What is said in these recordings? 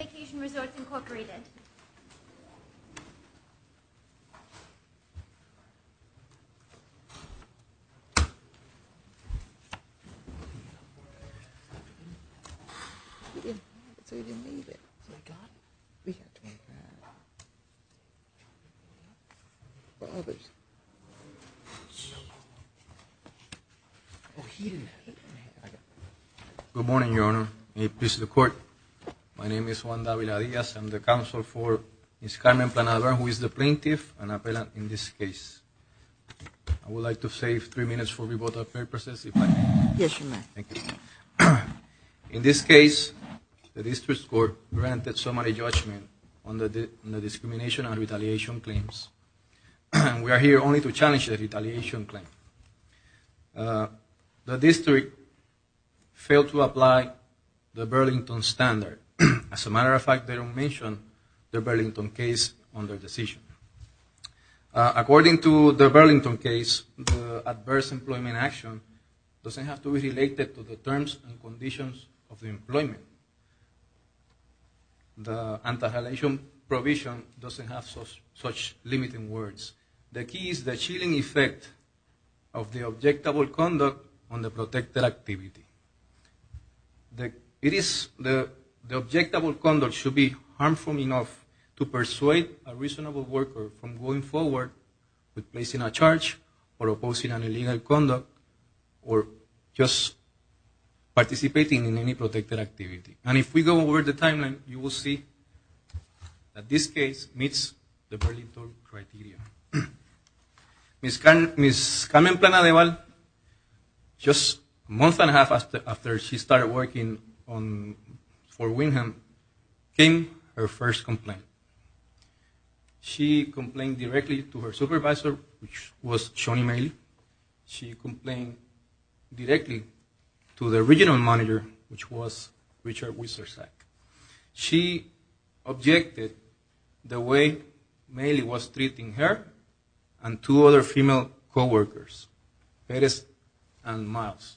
Wyndham Vacation Resorts, Inc. Good morning, Your Honor, and peace to the court. My name is Juan de Avila-Diaz. I'm the counsel for Ms. Carmen Planada, who is the plaintiff and appellant in this case. I would like to save three minutes for rebuttal purposes. In this case, the district court granted summary judgment on the discrimination and retaliation claims. We are here only to challenge the retaliation claim. The district failed to As a matter of fact, they don't mention the Burlington case on their decision. According to the Burlington case, the adverse employment action doesn't have to be related to the terms and conditions of the employment. The anti-retaliation provision doesn't have such limiting words. The key is the chilling effect of the objectable conduct on the protected activity. It is the objectable conduct should be harmful enough to persuade a reasonable worker from going forward with placing a charge or opposing an illegal conduct or just participating in any protected activity. And if we go over the timeline, you will see that this case meets the Burlington criteria. Ms. Carmen Planada, just a month and a half after she started working for Windham, came her first complaint. She complained directly to her supervisor, which was Shoni Mailey. She complained directly to the regional manager, which was Richard Wiesersack. She objected the way Mailey was treating her and two other female co-workers, Perez and Miles.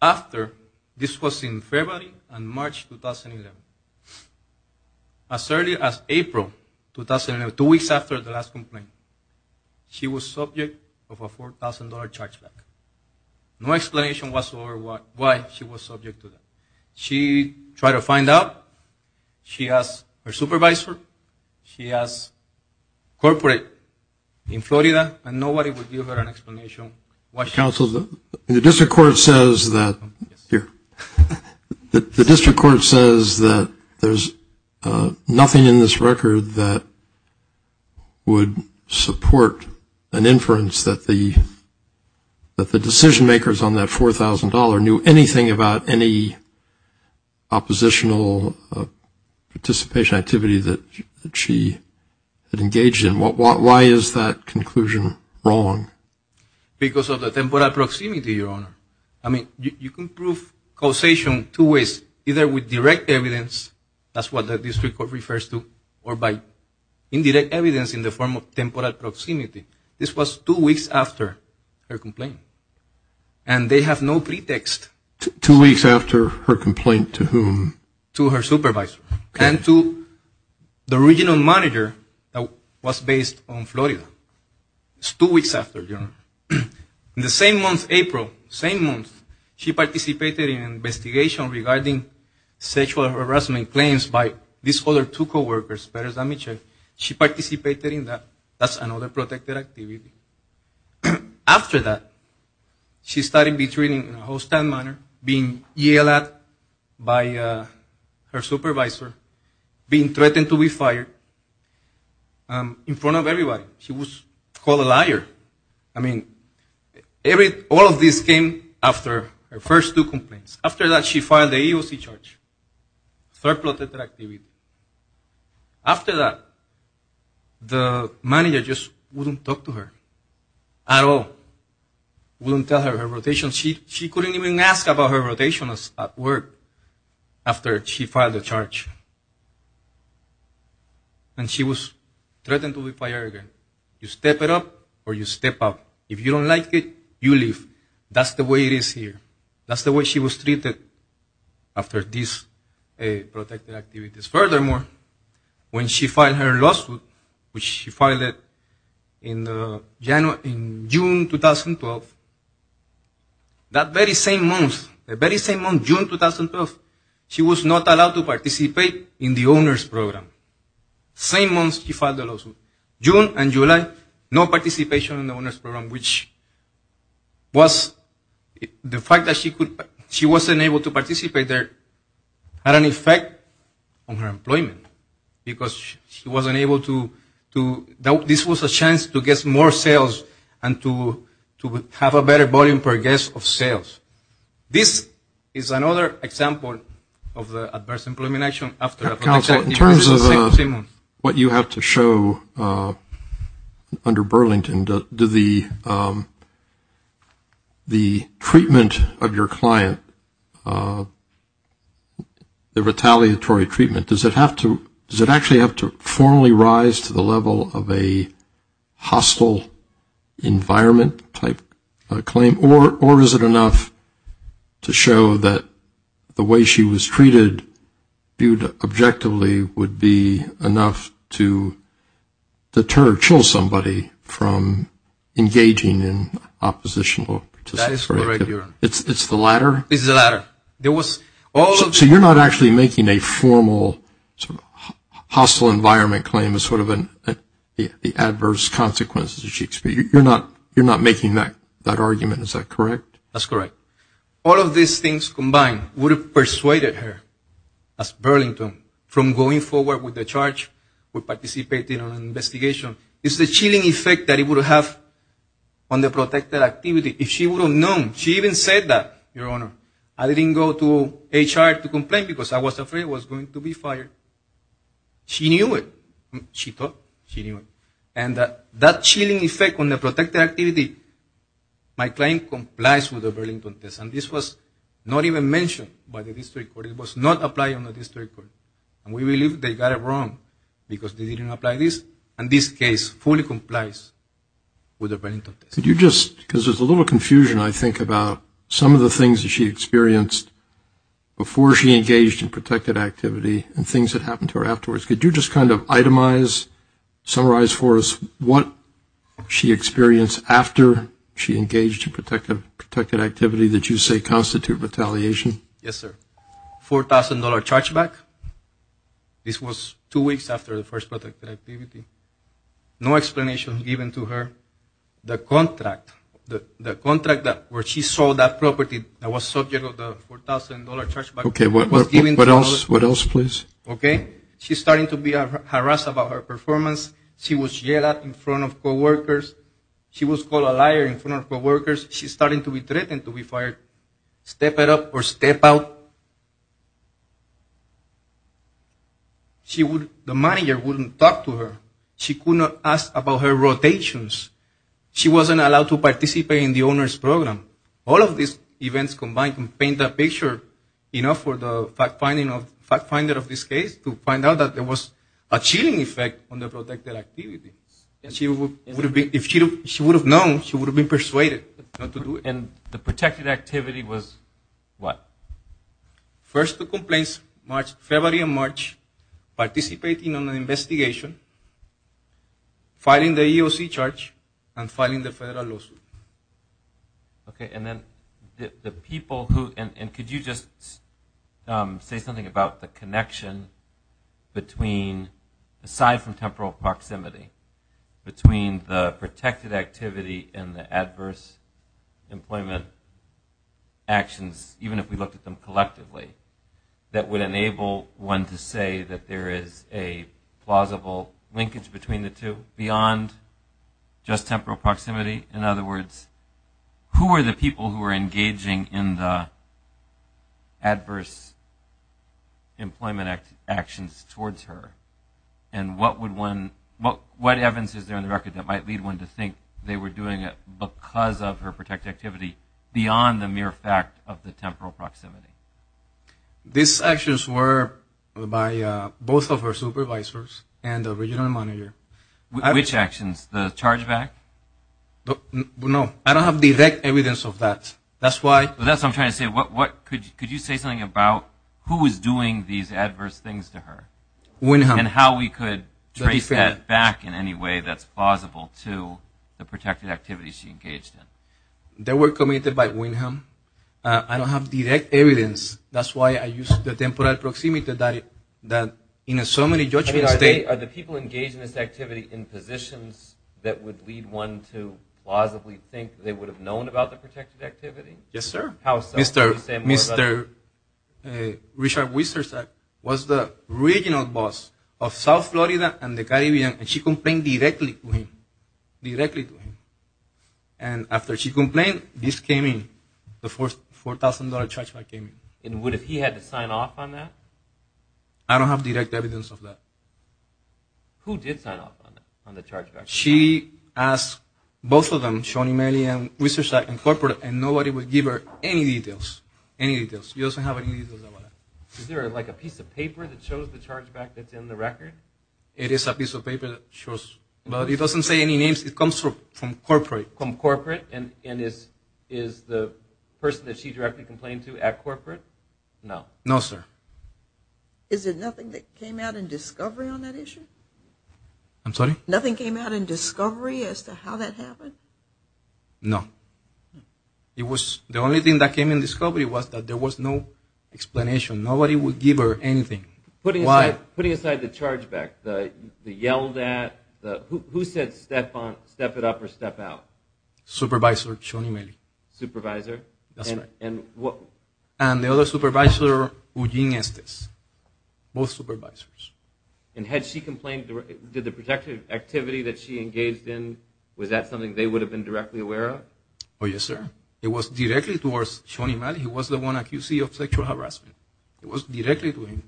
After, this was in February and March 2011, as early as April 2011, two weeks after the last complaint, she was subject of a $4,000 charge back. No explanation whatsoever why she was subject to that. She tried to find out. She asked her supervisor. She asked corporate in Florida, and nobody would give her an explanation. The district court says that there's nothing in this record that would support an inference that the decision makers on that $4,000 knew anything about any oppositional participation activity that she had engaged in. Why is that conclusion wrong? Because of the temporal proximity, your honor. I mean, you can prove causation two ways. Either with direct evidence, that's what the district court refers to, or by indirect evidence in the form of temporal proximity. This was two weeks after her complaint. And they have no pretext. Two weeks after her complaint to whom? To her supervisor. And to the regional manager that was based on Florida. It's two weeks after, your honor. In the same month, April, same month, she participated in an investigation regarding sexual harassment claims by these other two co-workers, Perez and Mitchell. She participated in that. That's another protected activity. After that, she started being treated in a hostile manner, being yelled at by her supervisor, being threatened to be fired in front of everybody. She was called a liar. I mean, all of this came after her first two complaints. After that, she filed the EEOC charge, third protected activity. After that, the manager just wouldn't talk to her at all, wouldn't tell her her rotation. She couldn't even ask about her rotation at work after she filed the charge. And she was threatened to be fired again. You step it up, or you step out. If you don't like it, you leave. That's the way it is here. That's the way she was treated after these protected activities. Furthermore, when she filed her lawsuit, which she filed in June 2012, that very same month, June 2012, she was not allowed to participate in the owner's program. Same month she filed the lawsuit. June and July, no participation in the owner's program. The fact that she wasn't able to participate there had an effect on her employment because she wasn't able to, this was a chance to get more sales and to have a better volume per guest of sales. This is another example of the adverse employment action after a protected activity. In terms of what you have to show under Burlington, the treatment of your client, the retaliatory treatment, does it actually have to formally rise to the level of a hostile environment type of claim? Or is it enough to show that the way she was treated would be enough to deter or chill somebody from engaging in oppositional participation? That is correct, Your Honor. It's the latter? It's the latter. So you're not actually making a formal hostile environment claim as sort of the adverse consequences that she experienced. You're not making that argument, is that correct? That's correct. All of these things combined would have persuaded her, as Burlington, from going forward with the charge or participating in an investigation. It's the chilling effect that it would have on the protected activity. If she would have known, she even said that, Your Honor, I didn't go to HR to complain because I was afraid I was going to be fired. She knew it. She thought she knew it. And that chilling effect on the protected activity, my client complies with the Burlington test. And this was not even mentioned by the district court. It was not applied on the district court. And we believe they got it wrong because they didn't apply this. And this case fully complies with the Burlington test. Could you just, because there's a little confusion, I think, about some of the things that she experienced before she engaged in protected activity and things that happened to her afterwards. Could you just kind of itemize, summarize for us what she experienced after she engaged in protected activity that you say constitute retaliation? Yes, sir. $4,000 chargeback. This was two weeks after the first protected activity. No explanation given to her. The contract, the contract that where she sold that property that was subject of the $4,000 chargeback. Okay, what else, what else, please? Okay. She's starting to be harassed about her performance. She was yelled at in front of co-workers. She's starting to be threatened to be fired. Step it up or step out. She would, the manager wouldn't talk to her. She could not ask about her rotations. She wasn't allowed to participate in the owner's program. All of these events combined can paint a picture, you know, for the fact finding of, fact finder of this case to find out that there was a chilling effect on the protected activity. And she would have been, if she would have known, she would have been persuaded not to do it. And the protected activity was what? First the complaints March, February and March, participating on an investigation, filing the EEOC charge, and filing the federal lawsuit. Okay, and then the people who, and could you just say something about the connection between, aside from temporal proximity, between the protected activity and the adverse employment actions, even if we looked at them collectively, that would enable one to say that there is a plausible linkage between the two, beyond just temporal proximity? In other words, who were the people who were engaging in the adverse employment actions towards her? And what would one, what evidence is there on the record that might lead one to think they were doing it because of her protected activity beyond the mere fact of the temporal proximity? These actions were by both of her supervisors and the original manager. Which actions? The charge back? No. I don't have direct evidence of that. That's why. That's what I'm trying to say. Could you say something about who is doing these adverse things to her? Windham. And how we could trace that back in any way that's plausible to the protected activities she engaged in. They were committed by Windham. I don't have direct evidence. That's why I used the temporal proximity that in a summary, you're trying to state. I mean, are the people engaged in this activity in positions that would lead one to plausibly think they would have known about the protected activity? Yes, sir. How so? Could you say more about that? After Richard Wiesersack was the original boss of South Florida and the Caribbean, and she complained directly to him. Directly to him. And after she complained, this came in. The $4,000 charge back came in. And what if he had to sign off on that? I don't have direct evidence of that. Who did sign off on it, on the charge back? She asked both of them, Shawnee Maley and Wiesersack, and nobody would give her any details. Any details. She doesn't have any details about it. Is there like a piece of paper that shows the charge back that's in the record? It is a piece of paper that shows. But it doesn't say any names. It comes from corporate. From corporate. And is the person that she directly complained to at corporate? No. No, sir. Is there nothing that came out in discovery on that issue? I'm sorry? Nothing came out in discovery as to how that happened? No. It was the only thing that came in discovery was that there was no explanation. Nobody would give her anything. Putting aside the charge back, the yelled at, who said step it up or step out? Supervisor, Shawnee Maley. Supervisor? That's right. And the other supervisor, Eugene Estes. Both supervisors. And had she complained, did the protective activity that she engaged in, was that something they would have been directly aware of? Oh, yes, sir. It was directly towards Shawnee Maley. He was the one accused of sexual harassment. It was directly to him.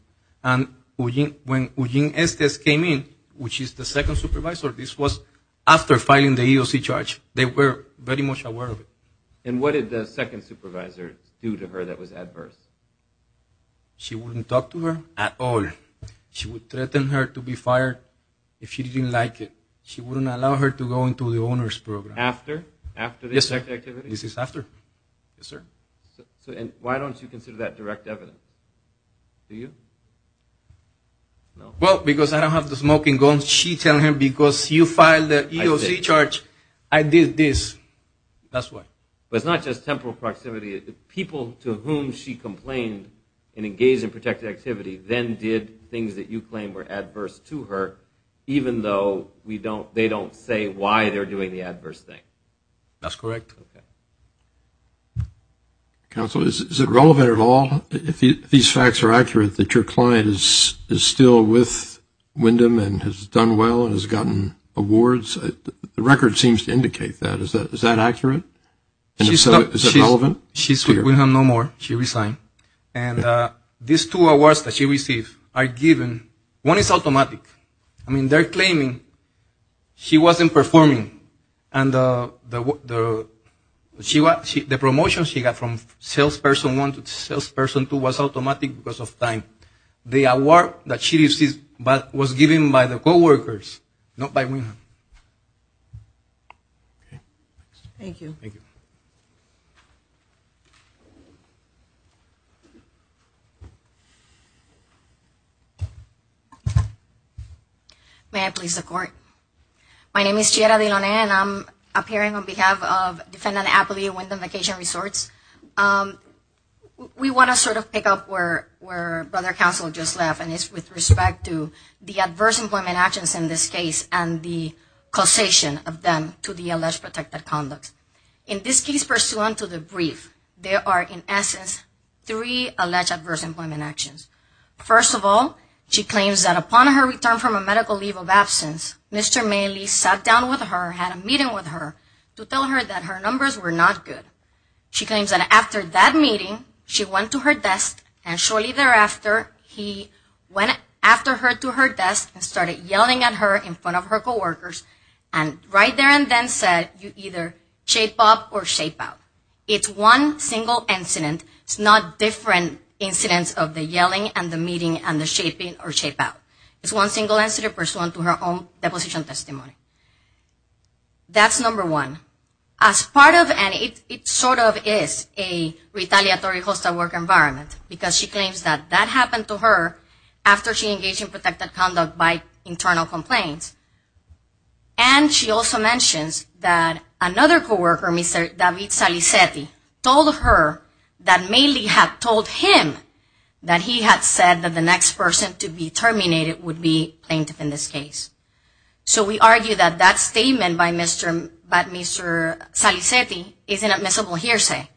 And when Eugene Estes came in, which is the second supervisor, this was after filing the EOC charge. They were very much aware of it. And what did the second supervisor do to her that was adverse? She wouldn't talk to her at all. She would threaten her to be fired if she didn't like it. She wouldn't allow her to go into the owner's program. After? After the protective activity? Yes, sir. This is after. Yes, sir. And why don't you consider that direct evidence? Do you? No. Well, because I don't have the smoking gun. She tell him, because you filed the EOC charge, I did this. That's why. But it's not just temporal proximity. The people to whom she complained and engaged in protective activity then did things that you claim were adverse to her, even though they don't say why they're doing the adverse thing. That's correct. Okay. Counsel, is it relevant at all if these facts are accurate that your client is still with Wyndham and has done well and has gotten awards? The record seems to indicate that. Is that accurate? Is it relevant? She's with Wyndham no more. She resigned. And these two awards that she received are given. One is automatic. I mean, they're claiming she wasn't performing. And the promotion she got from salesperson one to salesperson two was automatic because of time. The award that she received was given by the co-workers, not by Wyndham. Thank you. Thank you. May I please record? My name is Chiara Delonay and I'm appearing on behalf of defendant Appley at Wyndham Vacation Resorts. We want to sort of pick up where Brother Counsel just left and it's with respect to the adverse employment actions in this case and the causation of them to the alleged protected conduct. In this case pursuant to the brief, there are in essence three cases. Three alleged adverse employment actions. First of all, she claims that upon her return from a medical leave of absence, Mr. Maley sat down with her, had a meeting with her to tell her that her numbers were not good. She claims that after that meeting, she went to her desk and shortly thereafter, he went after her to her desk and started yelling at her in front of her co-workers and right there and then said, you either shape up or shape out. It's one single incident. It's not different incidents of the yelling and the meeting and the shaping or shape out. It's one single incident pursuant to her own deposition testimony. That's number one. As part of and it sort of is a retaliatory hostile work environment because she claims that that happened to her after she engaged in protected conduct by internal complaints and she also mentions that another co-worker, Mr. David Salicetti, told her that Maley had told him that he had said that the next person to be terminated would be plaintiff in this case. So we argue that that statement by Mr. Salicetti is an admissible hearsay.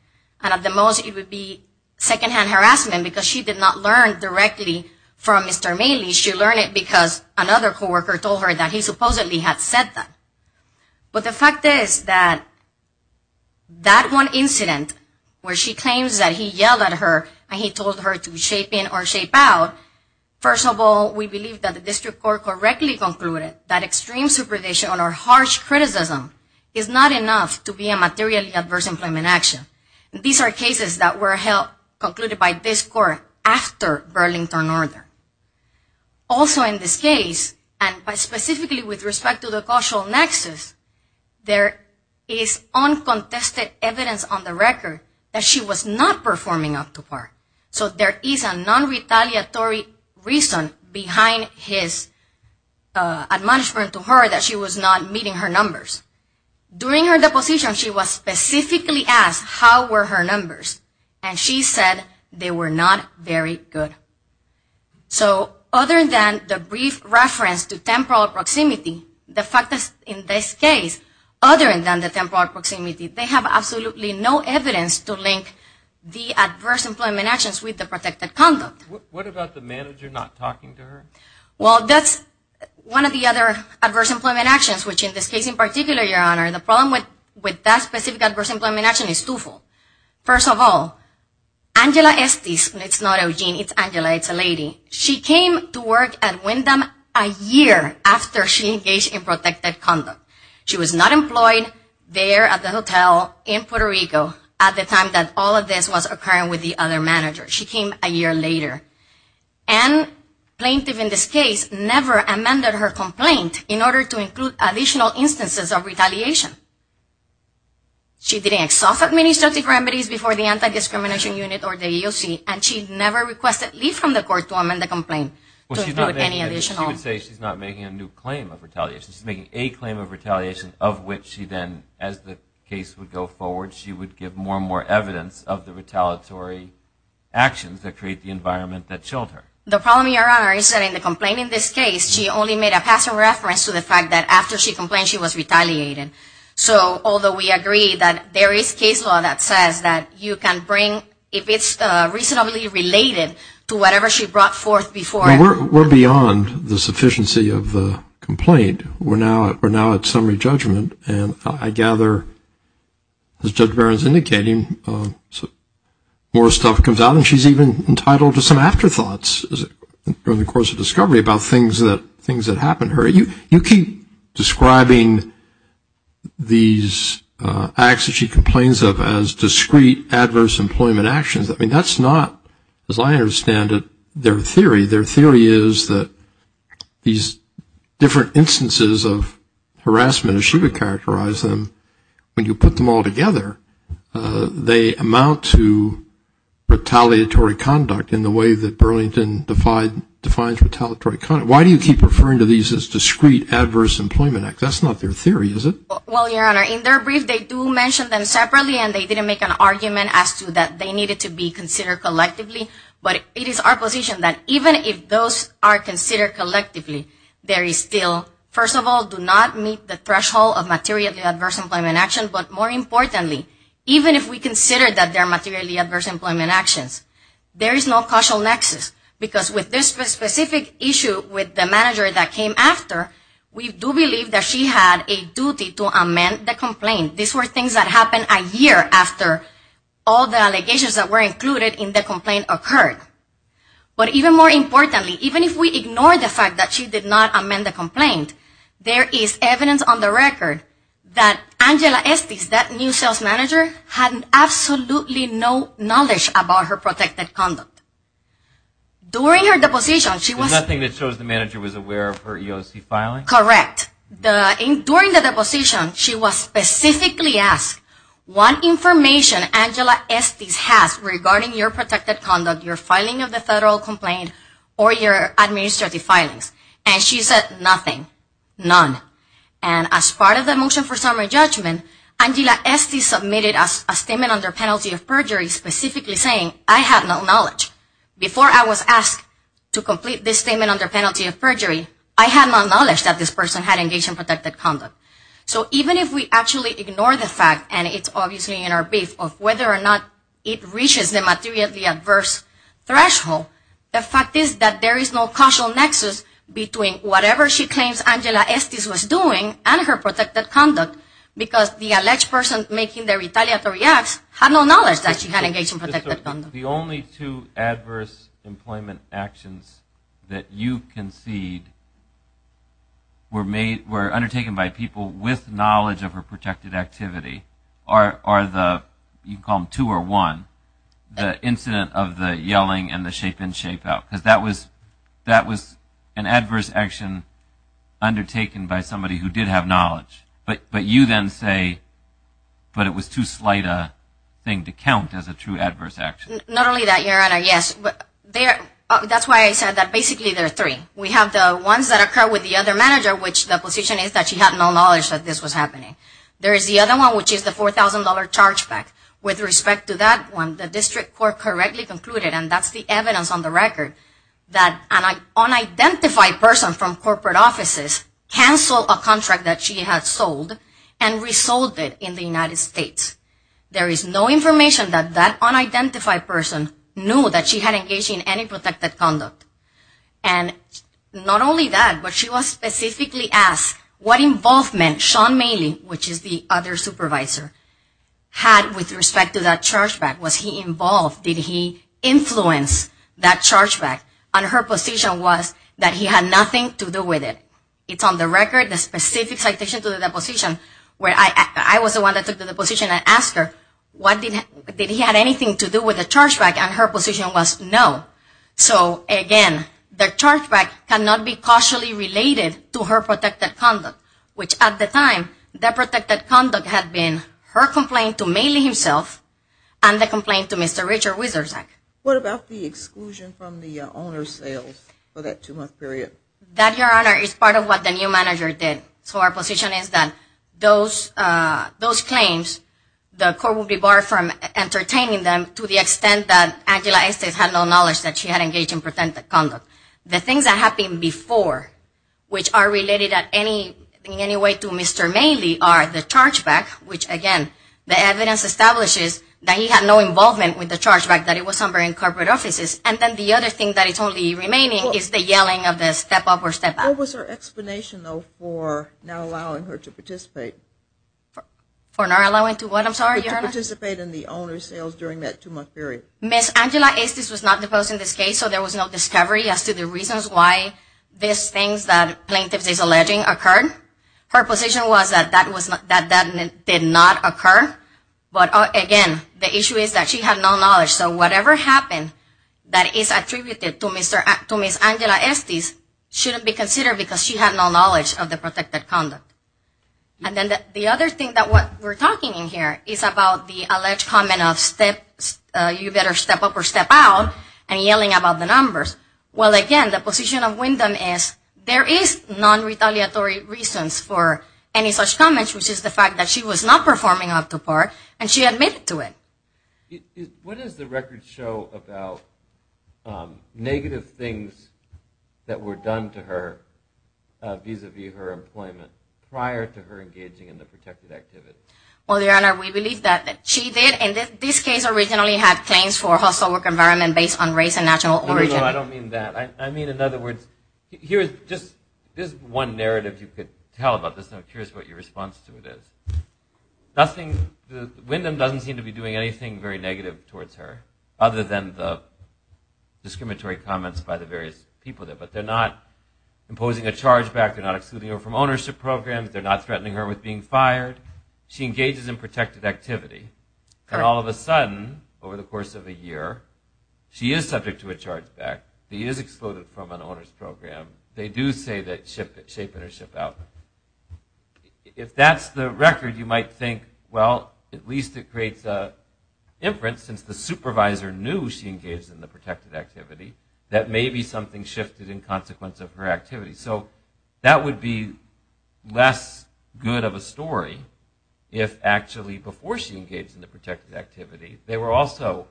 And at the most, it would be secondhand harassment because she did not learn directly from Mr. Maley. She learned it because another co-worker told her that he supposedly had said that. But the fact is that that one incident where she claims that he yelled at her and he told her to shape in or shape out, first of all, we believe that the district court correctly concluded that extreme supervision or harsh criticism is not enough to be a materially adverse employment action. These are cases that were held, concluded by this court after Burlington murder. Also in this case, and specifically with respect to the causal nexus, there is uncontested evidence on the record that she was not performing up to par. So there is a non-retaliatory reason behind his admonishment to her that she was not meeting her numbers. During her deposition, she was specifically asked how were her numbers, and she said they were not very good. So other than the brief reference to temporal proximity, the fact is in this case, other than the temporal proximity, they have absolutely no evidence to link the adverse employment actions with the protected conduct. What about the manager not talking to her? Well, that's one of the other adverse employment actions, which in this case in particular, Your Honor, the problem with that specific adverse employment action is twofold. First of all, Angela Estes, and it's not Eugene, it's Angela, it's a lady, she came to work at Wyndham a year after she engaged in protected conduct. She was not employed there at the hotel in Puerto Rico at the time that all of this was occurring with the other manager. She came a year later. And plaintiff in this case never amended her complaint in order to include additional instances of retaliation. She didn't exhaust administrative remedies before the Anti-Discrimination Unit, or the AOC, and she never requested leave from the court to amend the complaint to include any additional... Well, she's not making a new claim of retaliation. She's making a claim of retaliation of which she then, as the case would go forward, she would give more and more evidence of the retaliatory actions that create the environment that killed her. The problem, Your Honor, is that in the complaint in this case, she only made a passive reference to the fact that after she complained, she was retaliated. So, although we agree that there is case law that says that you can bring... if it's reasonably related to whatever she brought forth before... Well, we're beyond the sufficiency of the complaint. We're now at summary judgment, and I gather, as Judge Barron's indicating, more stuff comes out, and she's even entitled to some afterthoughts during the course of discovery about things that happened to her. You keep describing these acts that she complains of as discrete adverse employment actions. I mean, that's not, as I understand it, their theory. Their theory is that these different instances of harassment, as she would characterize them, when you put them all together, they amount to retaliatory conduct in the way that Burlington defines retaliatory conduct. Why do you keep referring to these as discrete adverse employment acts? That's not their theory, is it? Well, Your Honor, in their brief, they do mention them separately, and they didn't make an argument as to that they needed to be considered collectively, but it is our position that even if those are considered collectively, there is still, first of all, do not meet the threshold of materially adverse employment actions, but more importantly, even if we consider that they're materially adverse employment actions, there is no causal nexus because with this specific issue with the manager that came after, we do believe that she had a duty to amend the complaint. These were things that happened a year after all the allegations that were included in the complaint occurred. But even more importantly, even if we ignore the fact that she did not amend the complaint, there is evidence on the record that Angela Estes, that new sales manager, had absolutely no knowledge about her protected conduct. During her deposition, she was... Nothing that shows the manager was aware of her EOC filing? Correct. During the deposition, she was specifically asked what information Angela Estes has regarding your protected conduct, your filing of the federal complaint, or your administrative filings, and she said nothing, none. And as part of the motion for summary judgment, Angela Estes submitted a statement under penalty of perjury specifically saying, I have no knowledge. Before I was asked to complete this statement under penalty of perjury, I had no knowledge that this person had engaged in protected conduct. So even if we actually ignore the fact, and it's obviously in our brief, of whether or not it reaches the materially adverse threshold, the fact is that there is no causal nexus between whatever she claims Angela Estes was doing and her protected conduct because the alleged person making the retaliatory acts had no knowledge that she had engaged in protected conduct. The only two adverse employment actions that you concede were undertaken by people with knowledge of her protected activity are the you can call them two or one, the incident of the yelling and the shape in, shape out, because that was an adverse action undertaken by somebody who did have knowledge. But you then say it was too slight a thing to count as a true adverse action. Not only that, Your Honor, that's why I said that basically there are three. We have the ones that occur with the other manager which the position is that she had no knowledge that this was happening. There is the other one which is the $4,000 charge back. With respect to that one, the district court correctly concluded and that's the evidence on the record that an unidentified person from corporate offices canceled a contract that she had sold and resold it in the United States. There is no information that that unidentified person knew that she had engaged in any protected conduct. Not only that, but she was specifically asked what involvement Sean Maley, which is the other supervisor, had with respect to that charge back. Was he involved? Did he influence that charge back? And her position was that he had nothing to do with it. It's on the record, the specific citation to the deposition, where I was the one that took the deposition and asked her did he have anything to do with the charge back and her position was no. So, again, the charge back cannot be cautiously related to her protected conduct which at the time, that protected conduct had been her complaint to Maley himself and the complaint to Mr. Richard Wiesersack. What about the exclusion from the owner's sales for that two-month period? That, Your Honor, is part of what the new manager did. So our position is that those claims, the court will be barred from entertaining them to the extent that Angela Estes had no knowledge that she had engaged in protected conduct. The things that happened before which are related in any way to Mr. Maley are the charge back, which, again, the evidence establishes that he had no involvement with the charge back, that it was somewhere in corporate offices. And then the other thing that is only remaining is the yelling of the step up or step out. What was her explanation though for not allowing her to participate? For not allowing to what, I'm sorry, Your Honor? To participate in the owner's sales during that two-month period. Ms. Angela Estes was not deposed in this case, so there was no discovery as to the reasons why these things that plaintiff is alleging occurred. Her position was that that did not occur. But, again, the issue is that she had no knowledge, so whatever happened that is attributed to Ms. Angela Estes shouldn't be considered because she had no knowledge of the protected conduct. And then the other thing that we're talking in here is about the alleged comment of you better step up or step out and yelling about the numbers. Well, again, the position of Wyndham is there is non-retaliatory reasons for any such comments, which is the fact that she was not performing up to par and she admitted to it. What does the record show about negative things that were done to her vis-a-vis her employment prior to her engaging in the protected activity? Well, Your Honor, we believe that she did in this case originally had claims for hostile work environment based on race and national origin. No, no, no, I don't mean that. I mean, in other words, here is just this one narrative you could tell about this and I'm curious what your response to it is. Nothing, Wyndham doesn't seem to be doing anything very negative towards her other than the discriminatory comments by the various people there. But they're not imposing a charge back. They're not excluding her from ownership programs. They're not threatening her with being fired. She engages in protected activity. And all of a sudden, over the course of a year, she is subject to a charge back. She is excluded from an owner's program. They do say that it's shaping her ship out. If that's the record, you might think, well, at least it creates an inference since the supervisor knew she engaged in the protected activity that maybe something shifted in consequence of her activity. So, that would be less good of a story if actually before she engaged in the protected activity, they were also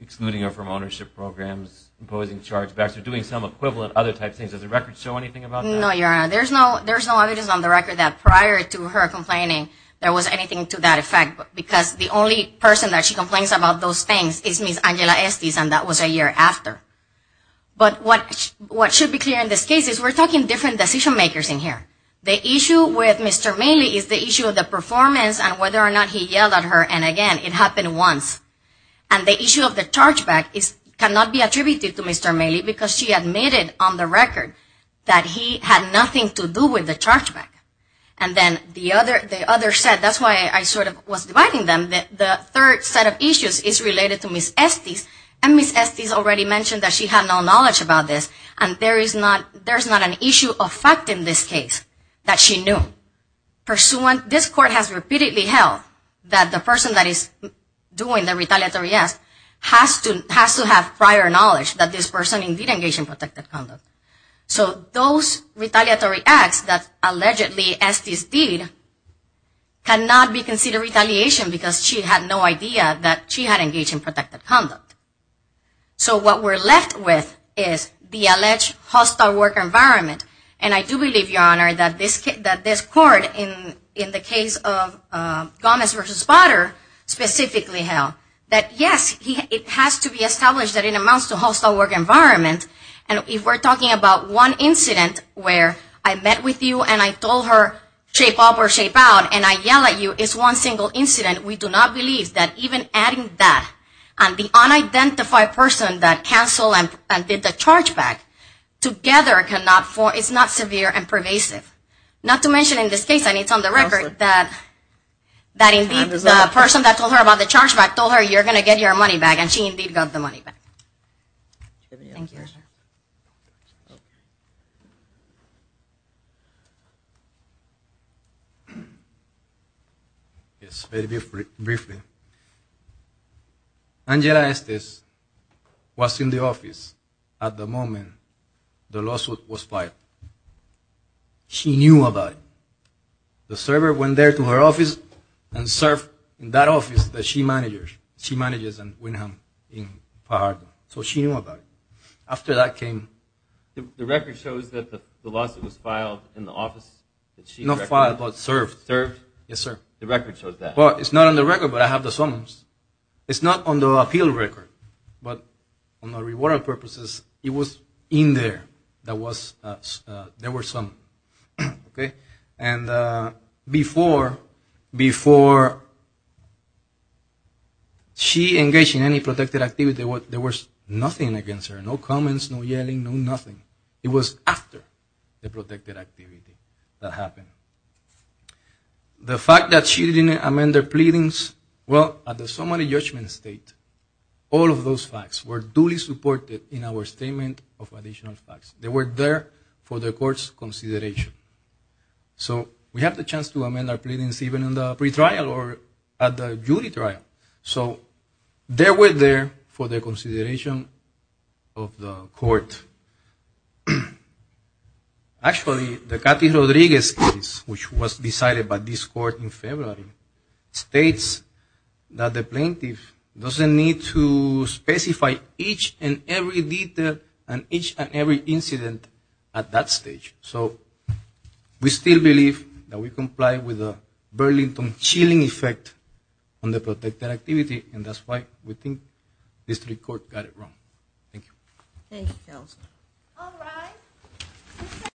excluding her from ownership programs, imposing charge backs, or doing some equivalent other type things. Does the record show anything about that? No, Your Honor. There's no evidence on the record that prior to her complaining there was anything to that effect because the only person that she complains about those things is Ms. Angela Estes and that was a year after. But what should be clear in this case is we're talking different decision makers in here. The issue with Mr. Maley is the issue of the performance and whether or not he yelled at her. And again, it happened once. And the issue of the charge back cannot be omitted on the record that he had nothing to do with the charge back. And then the other set, that's why I sort of was dividing them, the third set of issues is related to Ms. Estes and Ms. Estes already mentioned that she had no knowledge about this and there is not there's not an issue of fact in this case that she knew. Pursuant, this court has repeatedly held that the person that is doing the retaliatory ask has to have prior knowledge that this person indeed engaged in protected conduct. So those retaliatory acts that allegedly Estes did cannot be considered retaliation because she had no idea that she had engaged in protected conduct. So what we're left with is the alleged hostile work environment. And I do believe your honor that this court in the case of Gomez versus Potter specifically held that yes it has to be established that it amounts to hostile work environment and if we're talking about one incident where I met with you and I told her shape up or shape out and I yell at you, it's one single incident we do not believe that even adding that and the unidentified person that canceled and did the charge back, together it's not severe and pervasive. Not to mention in this case and it's on the record that that indeed the person that told her about the charge back told her you're going to get your money back and she indeed got the money back. Thank you. Angela Estes was in the office at the moment the lawsuit was filed. She knew about it. The server went there to her office and served in that office that she manages in Pajardo. So she knew about it. After that came The record shows that the lawsuit was filed in the office Not filed, but served. Yes sir. The record shows that. It's not on the record, but I have the summons. It's not on the appeal record but on the reward of purposes it was in there that there were summons. And before she engaged in any protected activity, there was nothing against her. No comments, no yelling, no nothing. It was after the protected activity that happened. The fact that she didn't amend the pleadings well, at the summary judgment state, all of those facts were duly supported in our statement of additional facts. They were there for the court's consideration. So we have the chance to amend our pleadings even in the pretrial or at the jury trial. So they were there for the consideration of the court. Actually the Cathy Rodriguez case which was decided by this court in February states that the plaintiff doesn't need to specify each and every detail and each and every incident at that stage. We still believe that we comply with the Burlington chilling effect on the protected activity and that's why we think District Court got it wrong. Thank you.